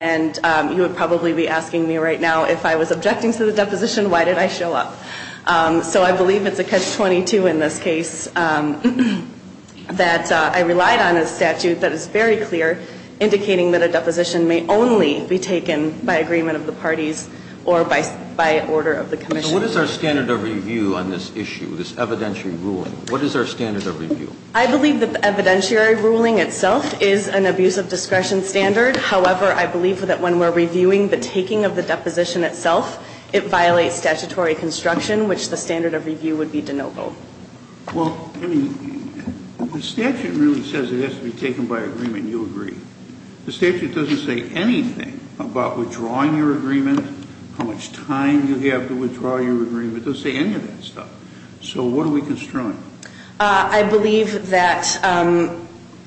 And you would probably be asking me right now, if I was objecting to the deposition, why did I show up? So I believe it's a catch-22 in this case that I relied on a statute that is very clear, indicating that a deposition may only be taken by agreement of the parties or by order of the commission. So what is our standard of review on this issue, this evidentiary ruling? What is our standard of review? I believe the evidentiary ruling itself is an abuse of discretion standard. However, I believe that when we're reviewing the taking of the deposition itself, it violates statutory construction, which the standard of review would be de novo. Well, I mean, the statute really says it has to be taken by agreement, and you agree. The statute doesn't say anything about withdrawing your agreement, how much time you have to withdraw your agreement. It doesn't say any of that stuff. So what are we construing? I believe that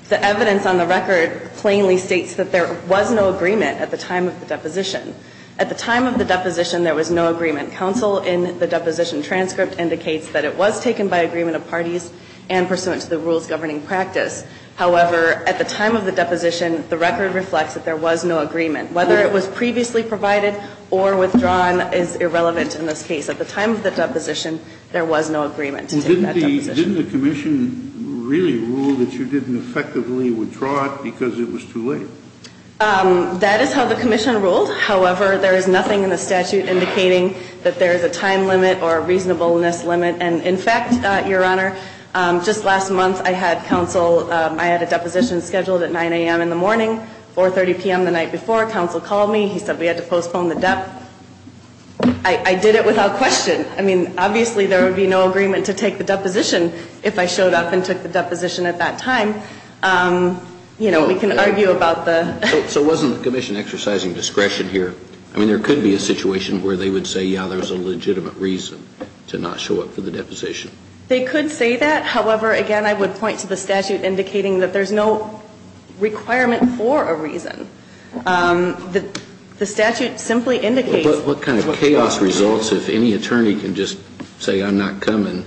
the evidence on the record plainly states that there was no agreement at the time of the deposition. At the time of the deposition, there was no agreement. Counsel in the deposition transcript indicates that it was taken by agreement of parties and pursuant to the rules governing practice. However, at the time of the deposition, the record reflects that there was no agreement. Whether it was previously provided or withdrawn is irrelevant in this case. At the time of the deposition, there was no agreement to take that deposition. Didn't the commission really rule that you didn't effectively withdraw it because it was too late? That is how the commission ruled. However, there is nothing in the statute indicating that there is a time limit or a reasonableness limit. And in fact, Your Honor, just last month, I had counsel – I had a deposition scheduled at 9 a.m. in the morning, 4.30 p.m. the night before. Counsel called me. He said we had to postpone the dep. I did it without question. I mean, obviously, there would be no agreement to take the deposition if I showed up and took the deposition at that time. You know, we can argue about the – So wasn't the commission exercising discretion here? I mean, there could be a situation where they would say, yeah, there's a legitimate reason to not show up for the deposition. They could say that. However, again, I would point to the statute indicating that there's no requirement for a reason. The statute simply indicates – What kind of chaos results if any attorney can just say I'm not coming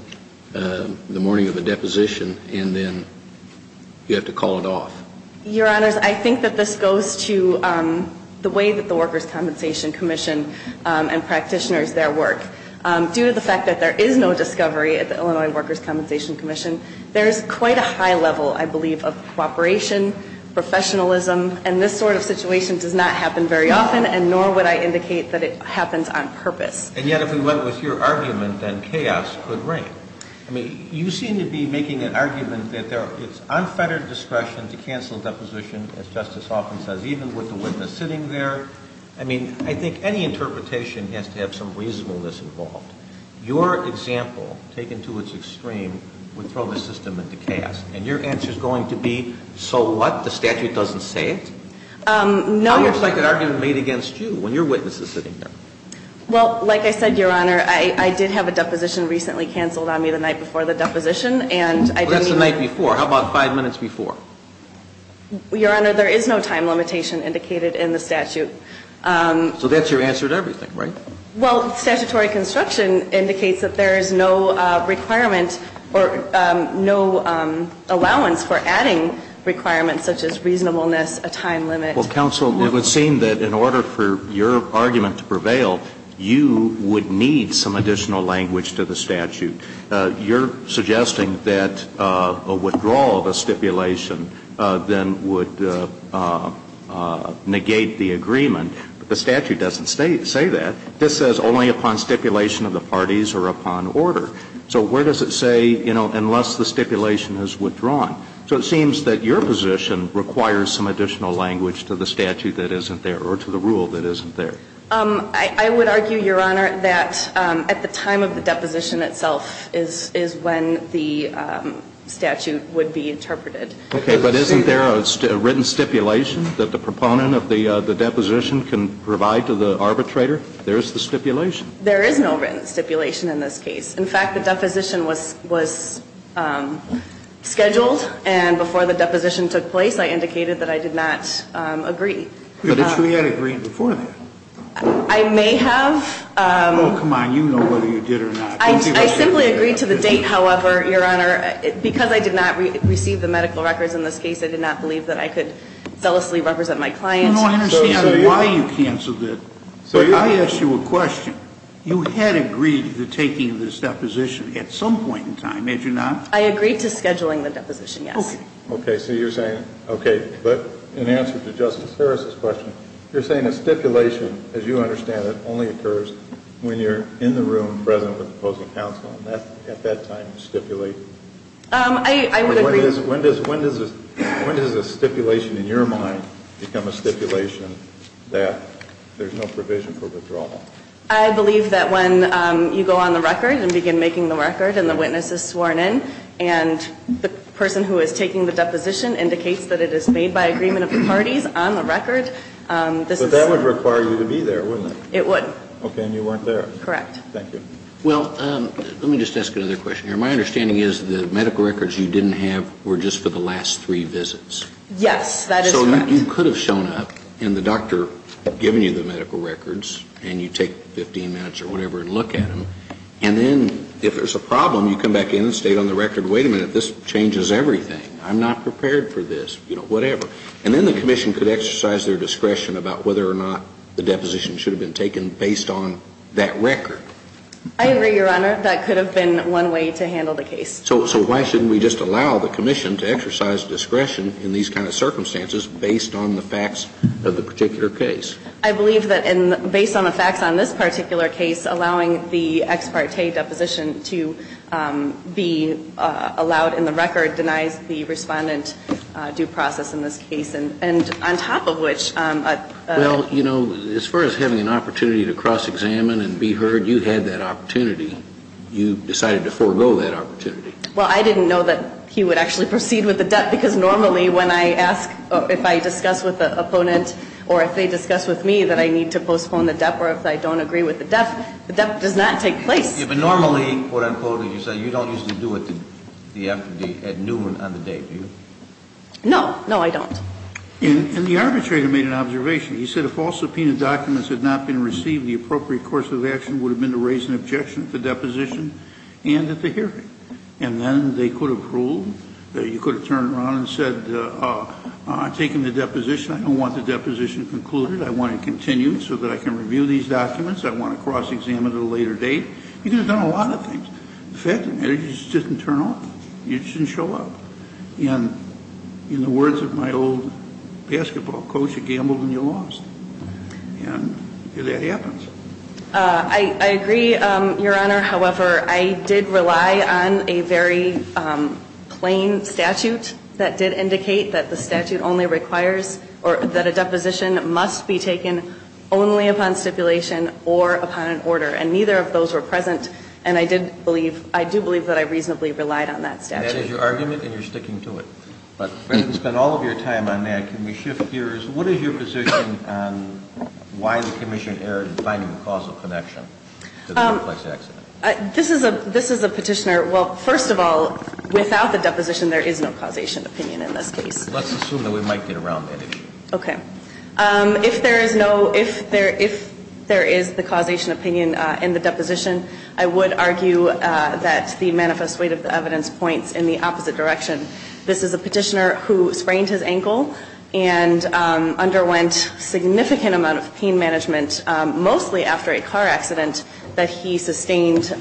the morning of a deposition and then you have to call it off? Your Honors, I think that this goes to the way that the Workers' Compensation Commission and practitioners there work. Due to the fact that there is no discovery at the Illinois Workers' Compensation Commission, there is quite a high level, I believe, of cooperation, professionalism, and this sort of situation does not happen very often, and nor would I indicate that it happens on purpose. And yet if we went with your argument, then chaos could reign. I mean, you seem to be making an argument that it's unfettered discretion to cancel a deposition, as Justice Hoffman says, even with the witness sitting there. I mean, I think any interpretation has to have some reasonableness involved. Your example, taken to its extreme, would throw the system into chaos. And your answer is going to be, so what? The statute doesn't say it? No. How much like an argument made against you when your witness is sitting there? Well, like I said, Your Honor, I did have a deposition recently canceled on me the night before the deposition, and I didn't even – Well, that's the night before. How about five minutes before? Your Honor, there is no time limitation indicated in the statute. So that's your answer to everything, right? Well, statutory construction indicates that there is no requirement or no allowance for adding requirements such as reasonableness, a time limit. Well, counsel, it would seem that in order for your argument to prevail, you would need some additional language to the statute. You're suggesting that a withdrawal of a stipulation then would negate the agreement. The statute doesn't say that. This says only upon stipulation of the parties or upon order. So where does it say, you know, unless the stipulation is withdrawn? So it seems that your position requires some additional language to the statute that isn't there or to the rule that isn't there. I would argue, Your Honor, that at the time of the deposition itself is when the statute would be interpreted. Okay. But isn't there a written stipulation that the proponent of the deposition can provide to the arbitrator? There is the stipulation. There is no written stipulation in this case. In fact, the deposition was scheduled and before the deposition took place, I indicated that I did not agree. But you had agreed before that. I may have. Oh, come on. You know whether you did or not. I simply agreed to the date, however, Your Honor, because I did not receive the medical records in this case. I did not believe that I could zealously represent my client. I don't understand why you canceled it, but I ask you a question. You had agreed to the taking of this deposition at some point in time, had you not? I agreed to scheduling the deposition, yes. Okay. So you're saying, okay. But in answer to Justice Ferris' question, you're saying a stipulation, as you understand it, only occurs when you're in the room present with the opposing counsel and at that time stipulate. I would agree. When does a stipulation in your mind become a stipulation that there's no provision for withdrawal? I believe that when you go on the record and begin making the record and the witness is sworn in and the person who is taking the deposition indicates that it is made by agreement of the parties on the record. But that would require you to be there, wouldn't it? It would. Okay. And you weren't there. Correct. Thank you. Well, let me just ask another question here. My understanding is the medical records you didn't have were just for the last three visits. Yes, that is correct. So you could have shown up and the doctor had given you the medical records and you take 15 minutes or whatever and look at them. And then if there's a problem, you come back in and state on the record, wait a minute, this changes everything. I'm not prepared for this, you know, whatever. And then the commission could exercise their discretion about whether or not the deposition should have been taken based on that record. I agree, Your Honor. That could have been one way to handle the case. So why shouldn't we just allow the commission to exercise discretion in these kinds of circumstances based on the facts of the particular case? I believe that based on the facts on this particular case, allowing the ex parte deposition to be allowed in the record denies the Respondent due process in this And on top of which ---- Well, you know, as far as having an opportunity to cross-examine and be heard, you had that opportunity. You decided to forego that opportunity. Well, I didn't know that he would actually proceed with the debt because normally when I ask if I discuss with the opponent or if they discuss with me that I need to postpone the debt or if I don't agree with the debt, the debt does not take place. Yeah, but normally, quote, unquote, as you say, you don't usually do it the afternoon on the day, do you? No. No, I don't. And the arbitrator made an observation. He said if all subpoenaed documents had not been received, the appropriate course of action would have been to raise an objection at the deposition and at the hearing. And then they could have ruled that you could have turned around and said, I'm taking the deposition. I don't want the deposition concluded. I want it continued so that I can review these documents. I want to cross-examine at a later date. You could have done a lot of things. In fact, it just didn't turn off. It just didn't show up. And in the words of my old basketball coach, you gambled and you lost. And that happens. I agree, Your Honor. However, I did rely on a very plain statute that did indicate that the statute only requires or that a deposition must be taken only upon stipulation or upon an order. And neither of those were present. And I did believe, I do believe that I reasonably relied on that statute. And that is your argument, and you're sticking to it. But since we've spent all of your time on that, can we shift gears? What is your position on why the commission erred in finding the causal connection to the complex accident? This is a petitioner. Well, first of all, without the deposition, there is no causation opinion in this case. Let's assume that we might get around that issue. Okay. If there is no, if there is the causation opinion in the deposition, I would argue that the manifest weight of the evidence points in the opposite direction. This is a petitioner who sprained his ankle and underwent significant amount of pain management, mostly after a car accident that he sustained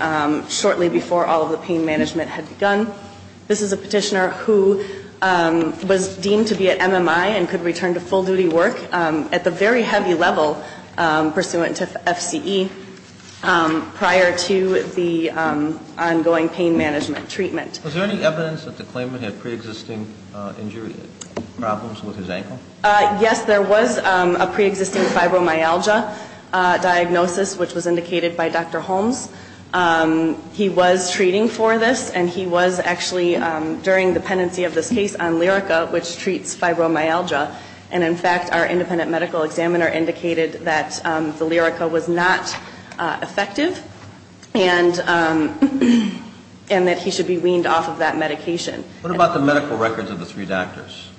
shortly before all of the pain management had begun. This is a petitioner who was deemed to be at MMI and could return to full duty work at the very heavy level pursuant to FCE prior to the ongoing pain management treatment. Was there any evidence that the claimant had preexisting injury problems with his ankle? Yes, there was a preexisting fibromyalgia diagnosis, which was indicated by Dr. Holmes. He was treating for this, and he was actually during the pendency of this case on Monday. The independent medical examiner indicated that the Lyrica was not effective, and that he should be weaned off of that medication. What about the medical records of the three doctors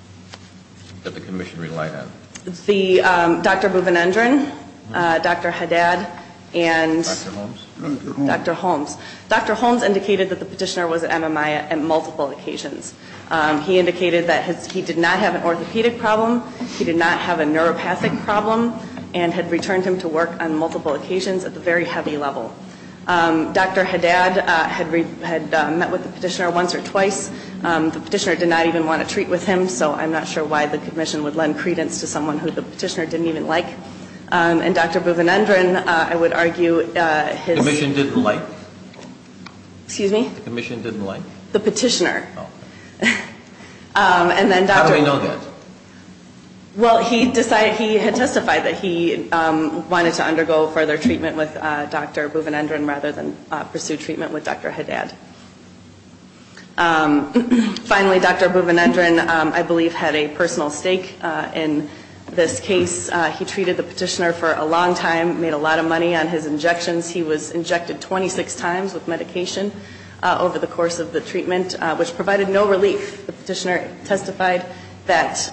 that the commission relied on? The Dr. Buvinendran, Dr. Haddad, and Dr. Holmes. Dr. Holmes. Dr. Holmes indicated that the petitioner was at MMI on multiple occasions. He indicated that he did not have an orthopedic problem, he did not have a neuropathic problem, and had returned him to work on multiple occasions at the very heavy level. Dr. Haddad had met with the petitioner once or twice. The petitioner did not even want to treat with him, so I'm not sure why the commission would lend credence to someone who the petitioner didn't even like. And Dr. Buvinendran, I would argue his... The commission didn't like? Excuse me? The commission didn't like? The petitioner. Oh. How do I know that? Well, he had testified that he wanted to undergo further treatment with Dr. Buvinendran rather than pursue treatment with Dr. Haddad. Finally, Dr. Buvinendran, I believe, had a personal stake in this case. He treated the petitioner for a long time, made a lot of money on his injections. He was injected 26 times with medication over the course of the treatment, which provided no relief. The petitioner testified that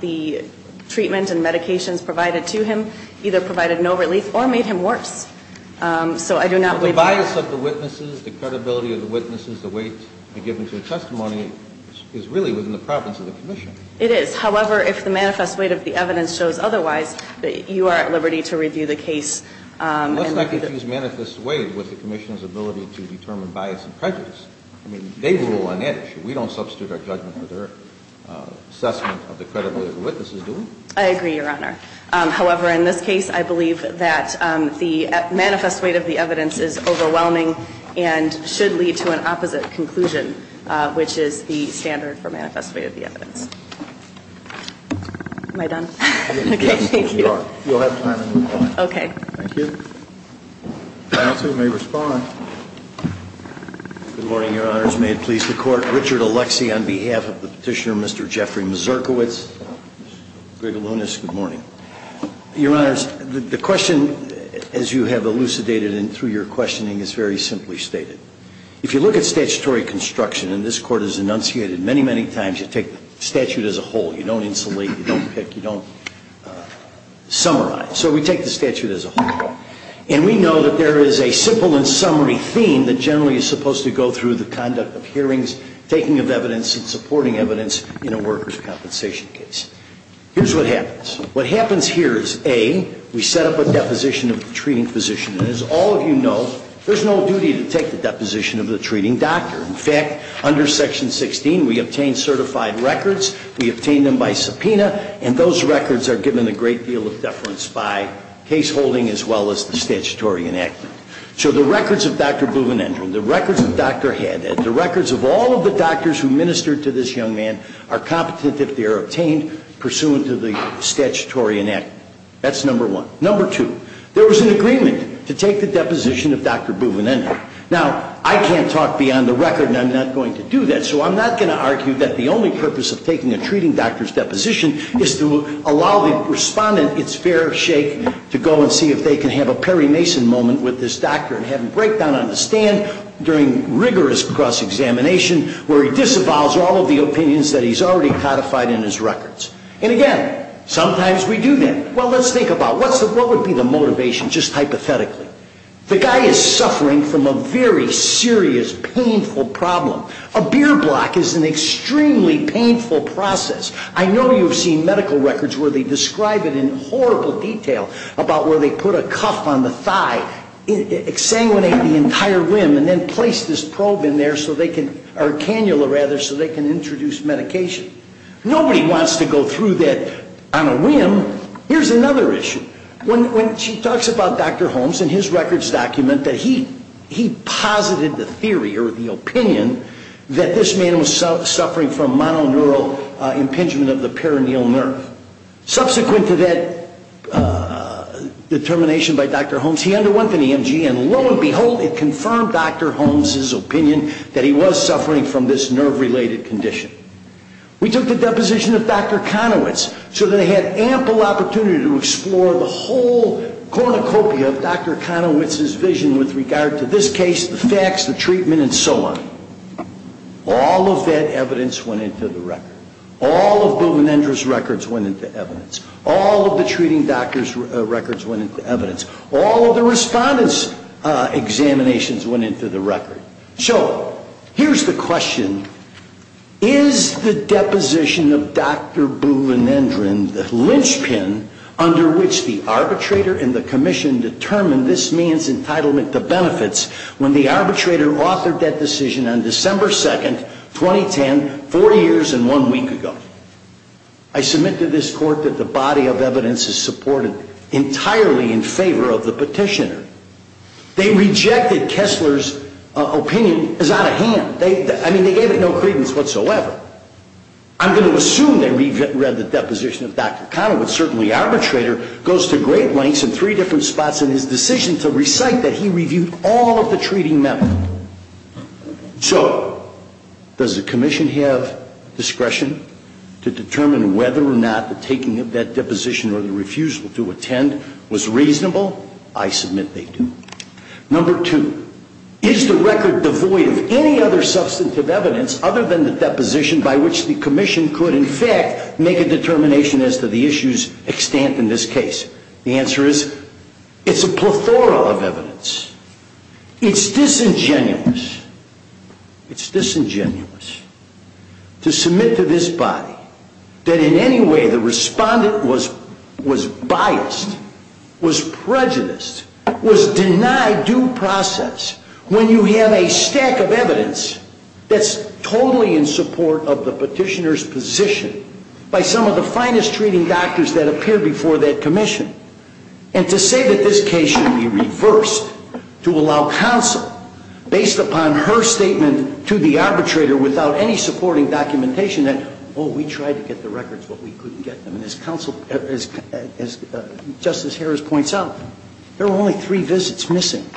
the treatment and medications provided to him either provided no relief or made him worse. So I do not believe... But the bias of the witnesses, the credibility of the witnesses, the weight given to the testimony is really within the province of the commission. It is. However, if the manifest weight of the evidence shows otherwise, you are at liberty to review the case. Let's not confuse manifest weight with the commission's ability to determine bias and prejudice. I mean, they rule on that issue. We don't substitute our judgment for their assessment of the credibility of the witnesses, do we? I agree, Your Honor. However, in this case, I believe that the manifest weight of the evidence is overwhelming and should lead to an opposite conclusion, which is the standard for manifest weight of the evidence. Am I done? Okay, thank you. Yes, you are. You'll have time to move on. Okay. Thank you. Counsel may respond. Good morning, Your Honors. May it please the Court. Richard Alexie on behalf of the Petitioner, Mr. Jeffrey Mazurkiewicz. Mr. Grigalunas, good morning. Your Honors, the question, as you have elucidated and through your questioning, is very simply stated. If you look at statutory construction, and this Court has enunciated many, many times, you take the statute as a whole. You don't insulate. You don't pick. You don't summarize. So we take the statute as a whole. And we know that there is a simple and summary theme that generally is supposed to go through the conduct of hearings, taking of evidence, and supporting evidence in a workers' compensation case. Here's what happens. What happens here is, A, we set up a deposition of the treating physician. And as all of you know, there's no duty to take the deposition of the treating doctor. In fact, under Section 16, we obtain certified records. We obtain them by subpoena. And those records are given a great deal of deference by case holding as well as the statutory enactment. So the records of Dr. Buvinendran, the records of Dr. Haddad, the records of all of the doctors who ministered to this young man are competent if they are obtained pursuant to the statutory enactment. That's number one. Number two, there was an agreement to take the deposition of Dr. Buvinendran. Now, I can't talk beyond the record, and I'm not going to do that. So I'm not going to argue that the only purpose of taking a treating doctor's deposition is to allow the respondent its fair shake to go and see if they can have a Perry Mason moment with this doctor and have him break down on the stand during rigorous cross-examination where he disavows all of the opinions that he's already codified in his records. And, again, sometimes we do that. Well, let's think about it. What would be the motivation, just hypothetically? The guy is suffering from a very serious, painful problem. A beer block is an extremely painful process. I know you've seen medical records where they describe it in horrible detail about where they put a cuff on the thigh, exsanguinate the entire rim, and then place this probe in there so they can or cannula, rather, so they can introduce medication. Nobody wants to go through that on a rim. Here's another issue. When she talks about Dr. Holmes and his records document that he posited the theory or the opinion that this man was suffering from mononeural impingement of the peroneal nerve. Subsequent to that determination by Dr. Holmes, he underwent an EMG, and, lo and behold, it confirmed Dr. Holmes' opinion that he was suffering from this nerve-related condition. We took the deposition of Dr. Konowitz so that they had ample opportunity to explore the whole cornucopia of Dr. Konowitz's vision with regard to this case, the facts, the treatment, and so on. All of that evidence went into the record. All of Buvinendra's records went into evidence. All of the treating doctor's records went into evidence. All of the respondents' examinations went into the record. So here's the question. Is the deposition of Dr. Buvinendra and the linchpin under which the arbitrator and the commission determined this man's entitlement to benefits when the arbitrator authored that decision on December 2, 2010, four years and one week ago? I submit to this court that the body of evidence is supported entirely in favor of the petitioner. They rejected Kessler's opinion as out of hand. I mean, they gave it no credence whatsoever. I'm going to assume they read the deposition of Dr. Konowitz. I'm going to assume that Dr. Konowitz, certainly arbitrator, goes to great lengths in three different spots in his decision to recite that he reviewed all of the treating medical. So does the commission have discretion to determine whether or not the taking of that deposition or the refusal to attend was reasonable? I submit they do. Number two, is the record devoid of any other substantive evidence other than the case? The answer is it's a plethora of evidence. It's disingenuous, it's disingenuous to submit to this body that in any way the respondent was biased, was prejudiced, was denied due process when you have a stack of evidence that's totally in support of the petitioner's position by some of the finest treating doctors that appear before that commission. And to say that this case should be reversed to allow counsel, based upon her statement to the arbitrator without any supporting documentation, that, oh, we tried to get the records, but we couldn't get them. And as Justice Harris points out, there were only three visits missing.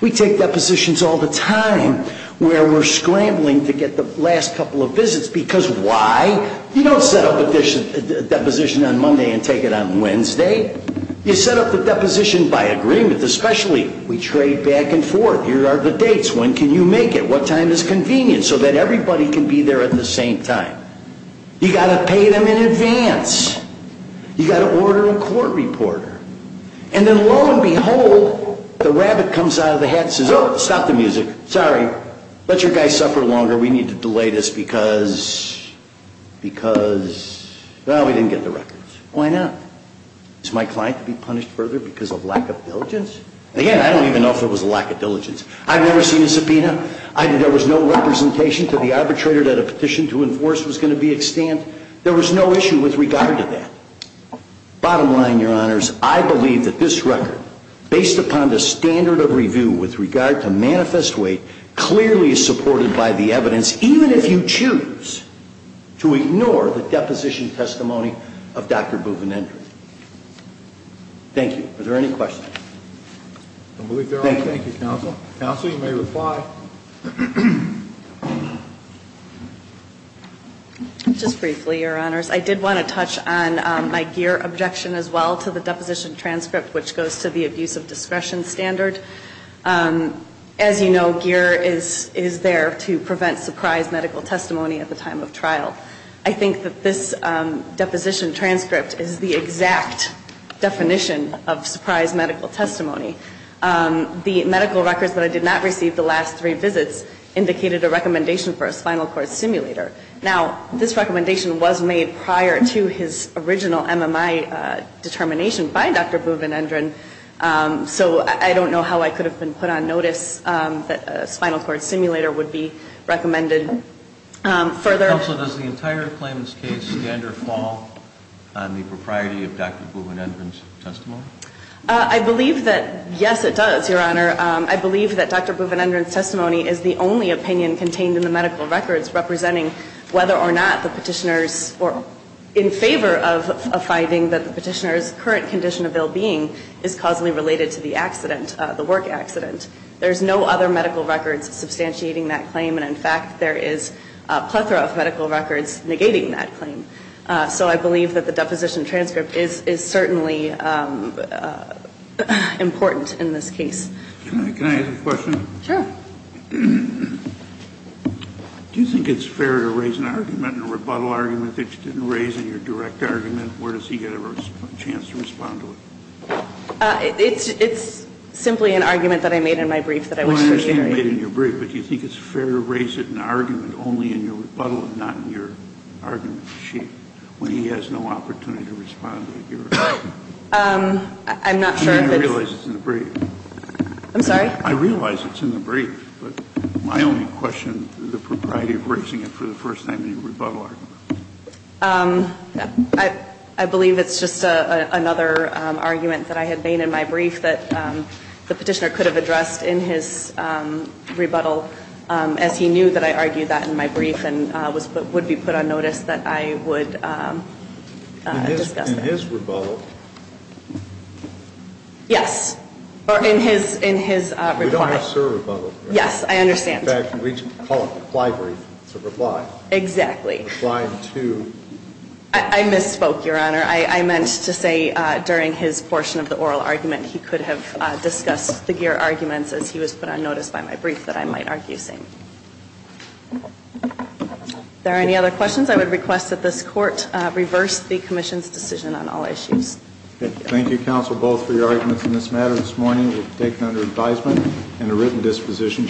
We take depositions all the time where we're scrambling to get the last couple of visits because why? You don't set up a deposition on Monday and take it on Wednesday. You set up the deposition by agreement, especially we trade back and forth. Here are the dates. When can you make it? What time is convenient so that everybody can be there at the same time? You've got to pay them in advance. You've got to order a court reporter. And then lo and behold, the rabbit comes out of the hat and says, oh, stop the music. Sorry. Let your guy suffer longer. We need to delay this because, because, well, we didn't get the records. Why not? Is my client to be punished further because of lack of diligence? Again, I don't even know if it was a lack of diligence. I've never seen a subpoena. There was no representation to the arbitrator that a petition to enforce was going to be extant. There was no issue with regard to that. Bottom line, Your Honors, I believe that this record, based upon the standard of evidence, even if you choose to ignore the deposition testimony of Dr. Buvinendre. Thank you. Are there any questions? I believe there are. Thank you, Counsel. Counsel, you may reply. Just briefly, Your Honors. I did want to touch on my GEER objection as well to the deposition transcript which goes to the abuse of discretion standard. As you know, GEER is there to prevent subpoenas. I think that this deposition transcript is the exact definition of surprise medical testimony. The medical records that I did not receive the last three visits indicated a recommendation for a spinal cord simulator. Now, this recommendation was made prior to his original MMI determination by Dr. Buvinendre. So I don't know how I could have been put on notice that a spinal cord simulator would be recommended for a spinal cord simulator. Counsel, does the entire claimant's case standard fall on the propriety of Dr. Buvinendre's testimony? I believe that, yes, it does, Your Honor. I believe that Dr. Buvinendre's testimony is the only opinion contained in the medical records representing whether or not the petitioner is in favor of a finding that the petitioner's current condition of well-being is causally related to the accident, the work accident. There's no other medical records substantiating that claim. And, in fact, there is a plethora of medical records negating that claim. So I believe that the deposition transcript is certainly important in this case. Can I ask a question? Sure. Do you think it's fair to raise an argument, a rebuttal argument that you didn't raise in your direct argument? Where does he get a chance to respond to it? It's simply an argument that I made in my brief that I wish to reiterate. You made it in your brief, but do you think it's fair to raise it in an argument only in your rebuttal and not in your argument sheet when he has no opportunity to respond to it? I'm not sure. I realize it's in the brief. I'm sorry? I realize it's in the brief, but my only question is the propriety of raising it for the first time in your rebuttal argument. I believe it's just another argument that I had made in my brief that the petitioner could have addressed in his rebuttal as he knew that I argued that in my brief and would be put on notice that I would discuss that. In his rebuttal? Yes. Or in his reply. We don't have sir rebuttal here. Yes, I understand. In fact, we call it a reply brief. It's a reply. Exactly. Replying to? I misspoke, Your Honor. I meant to say during his portion of the oral argument he could have discussed the Geer arguments as he was put on notice by my brief that I might argue the same. If there are any other questions, I would request that this Court reverse the Commission's decision on all issues. Thank you, counsel, both for your arguments in this matter. This morning was taken under advisement and a written disposition.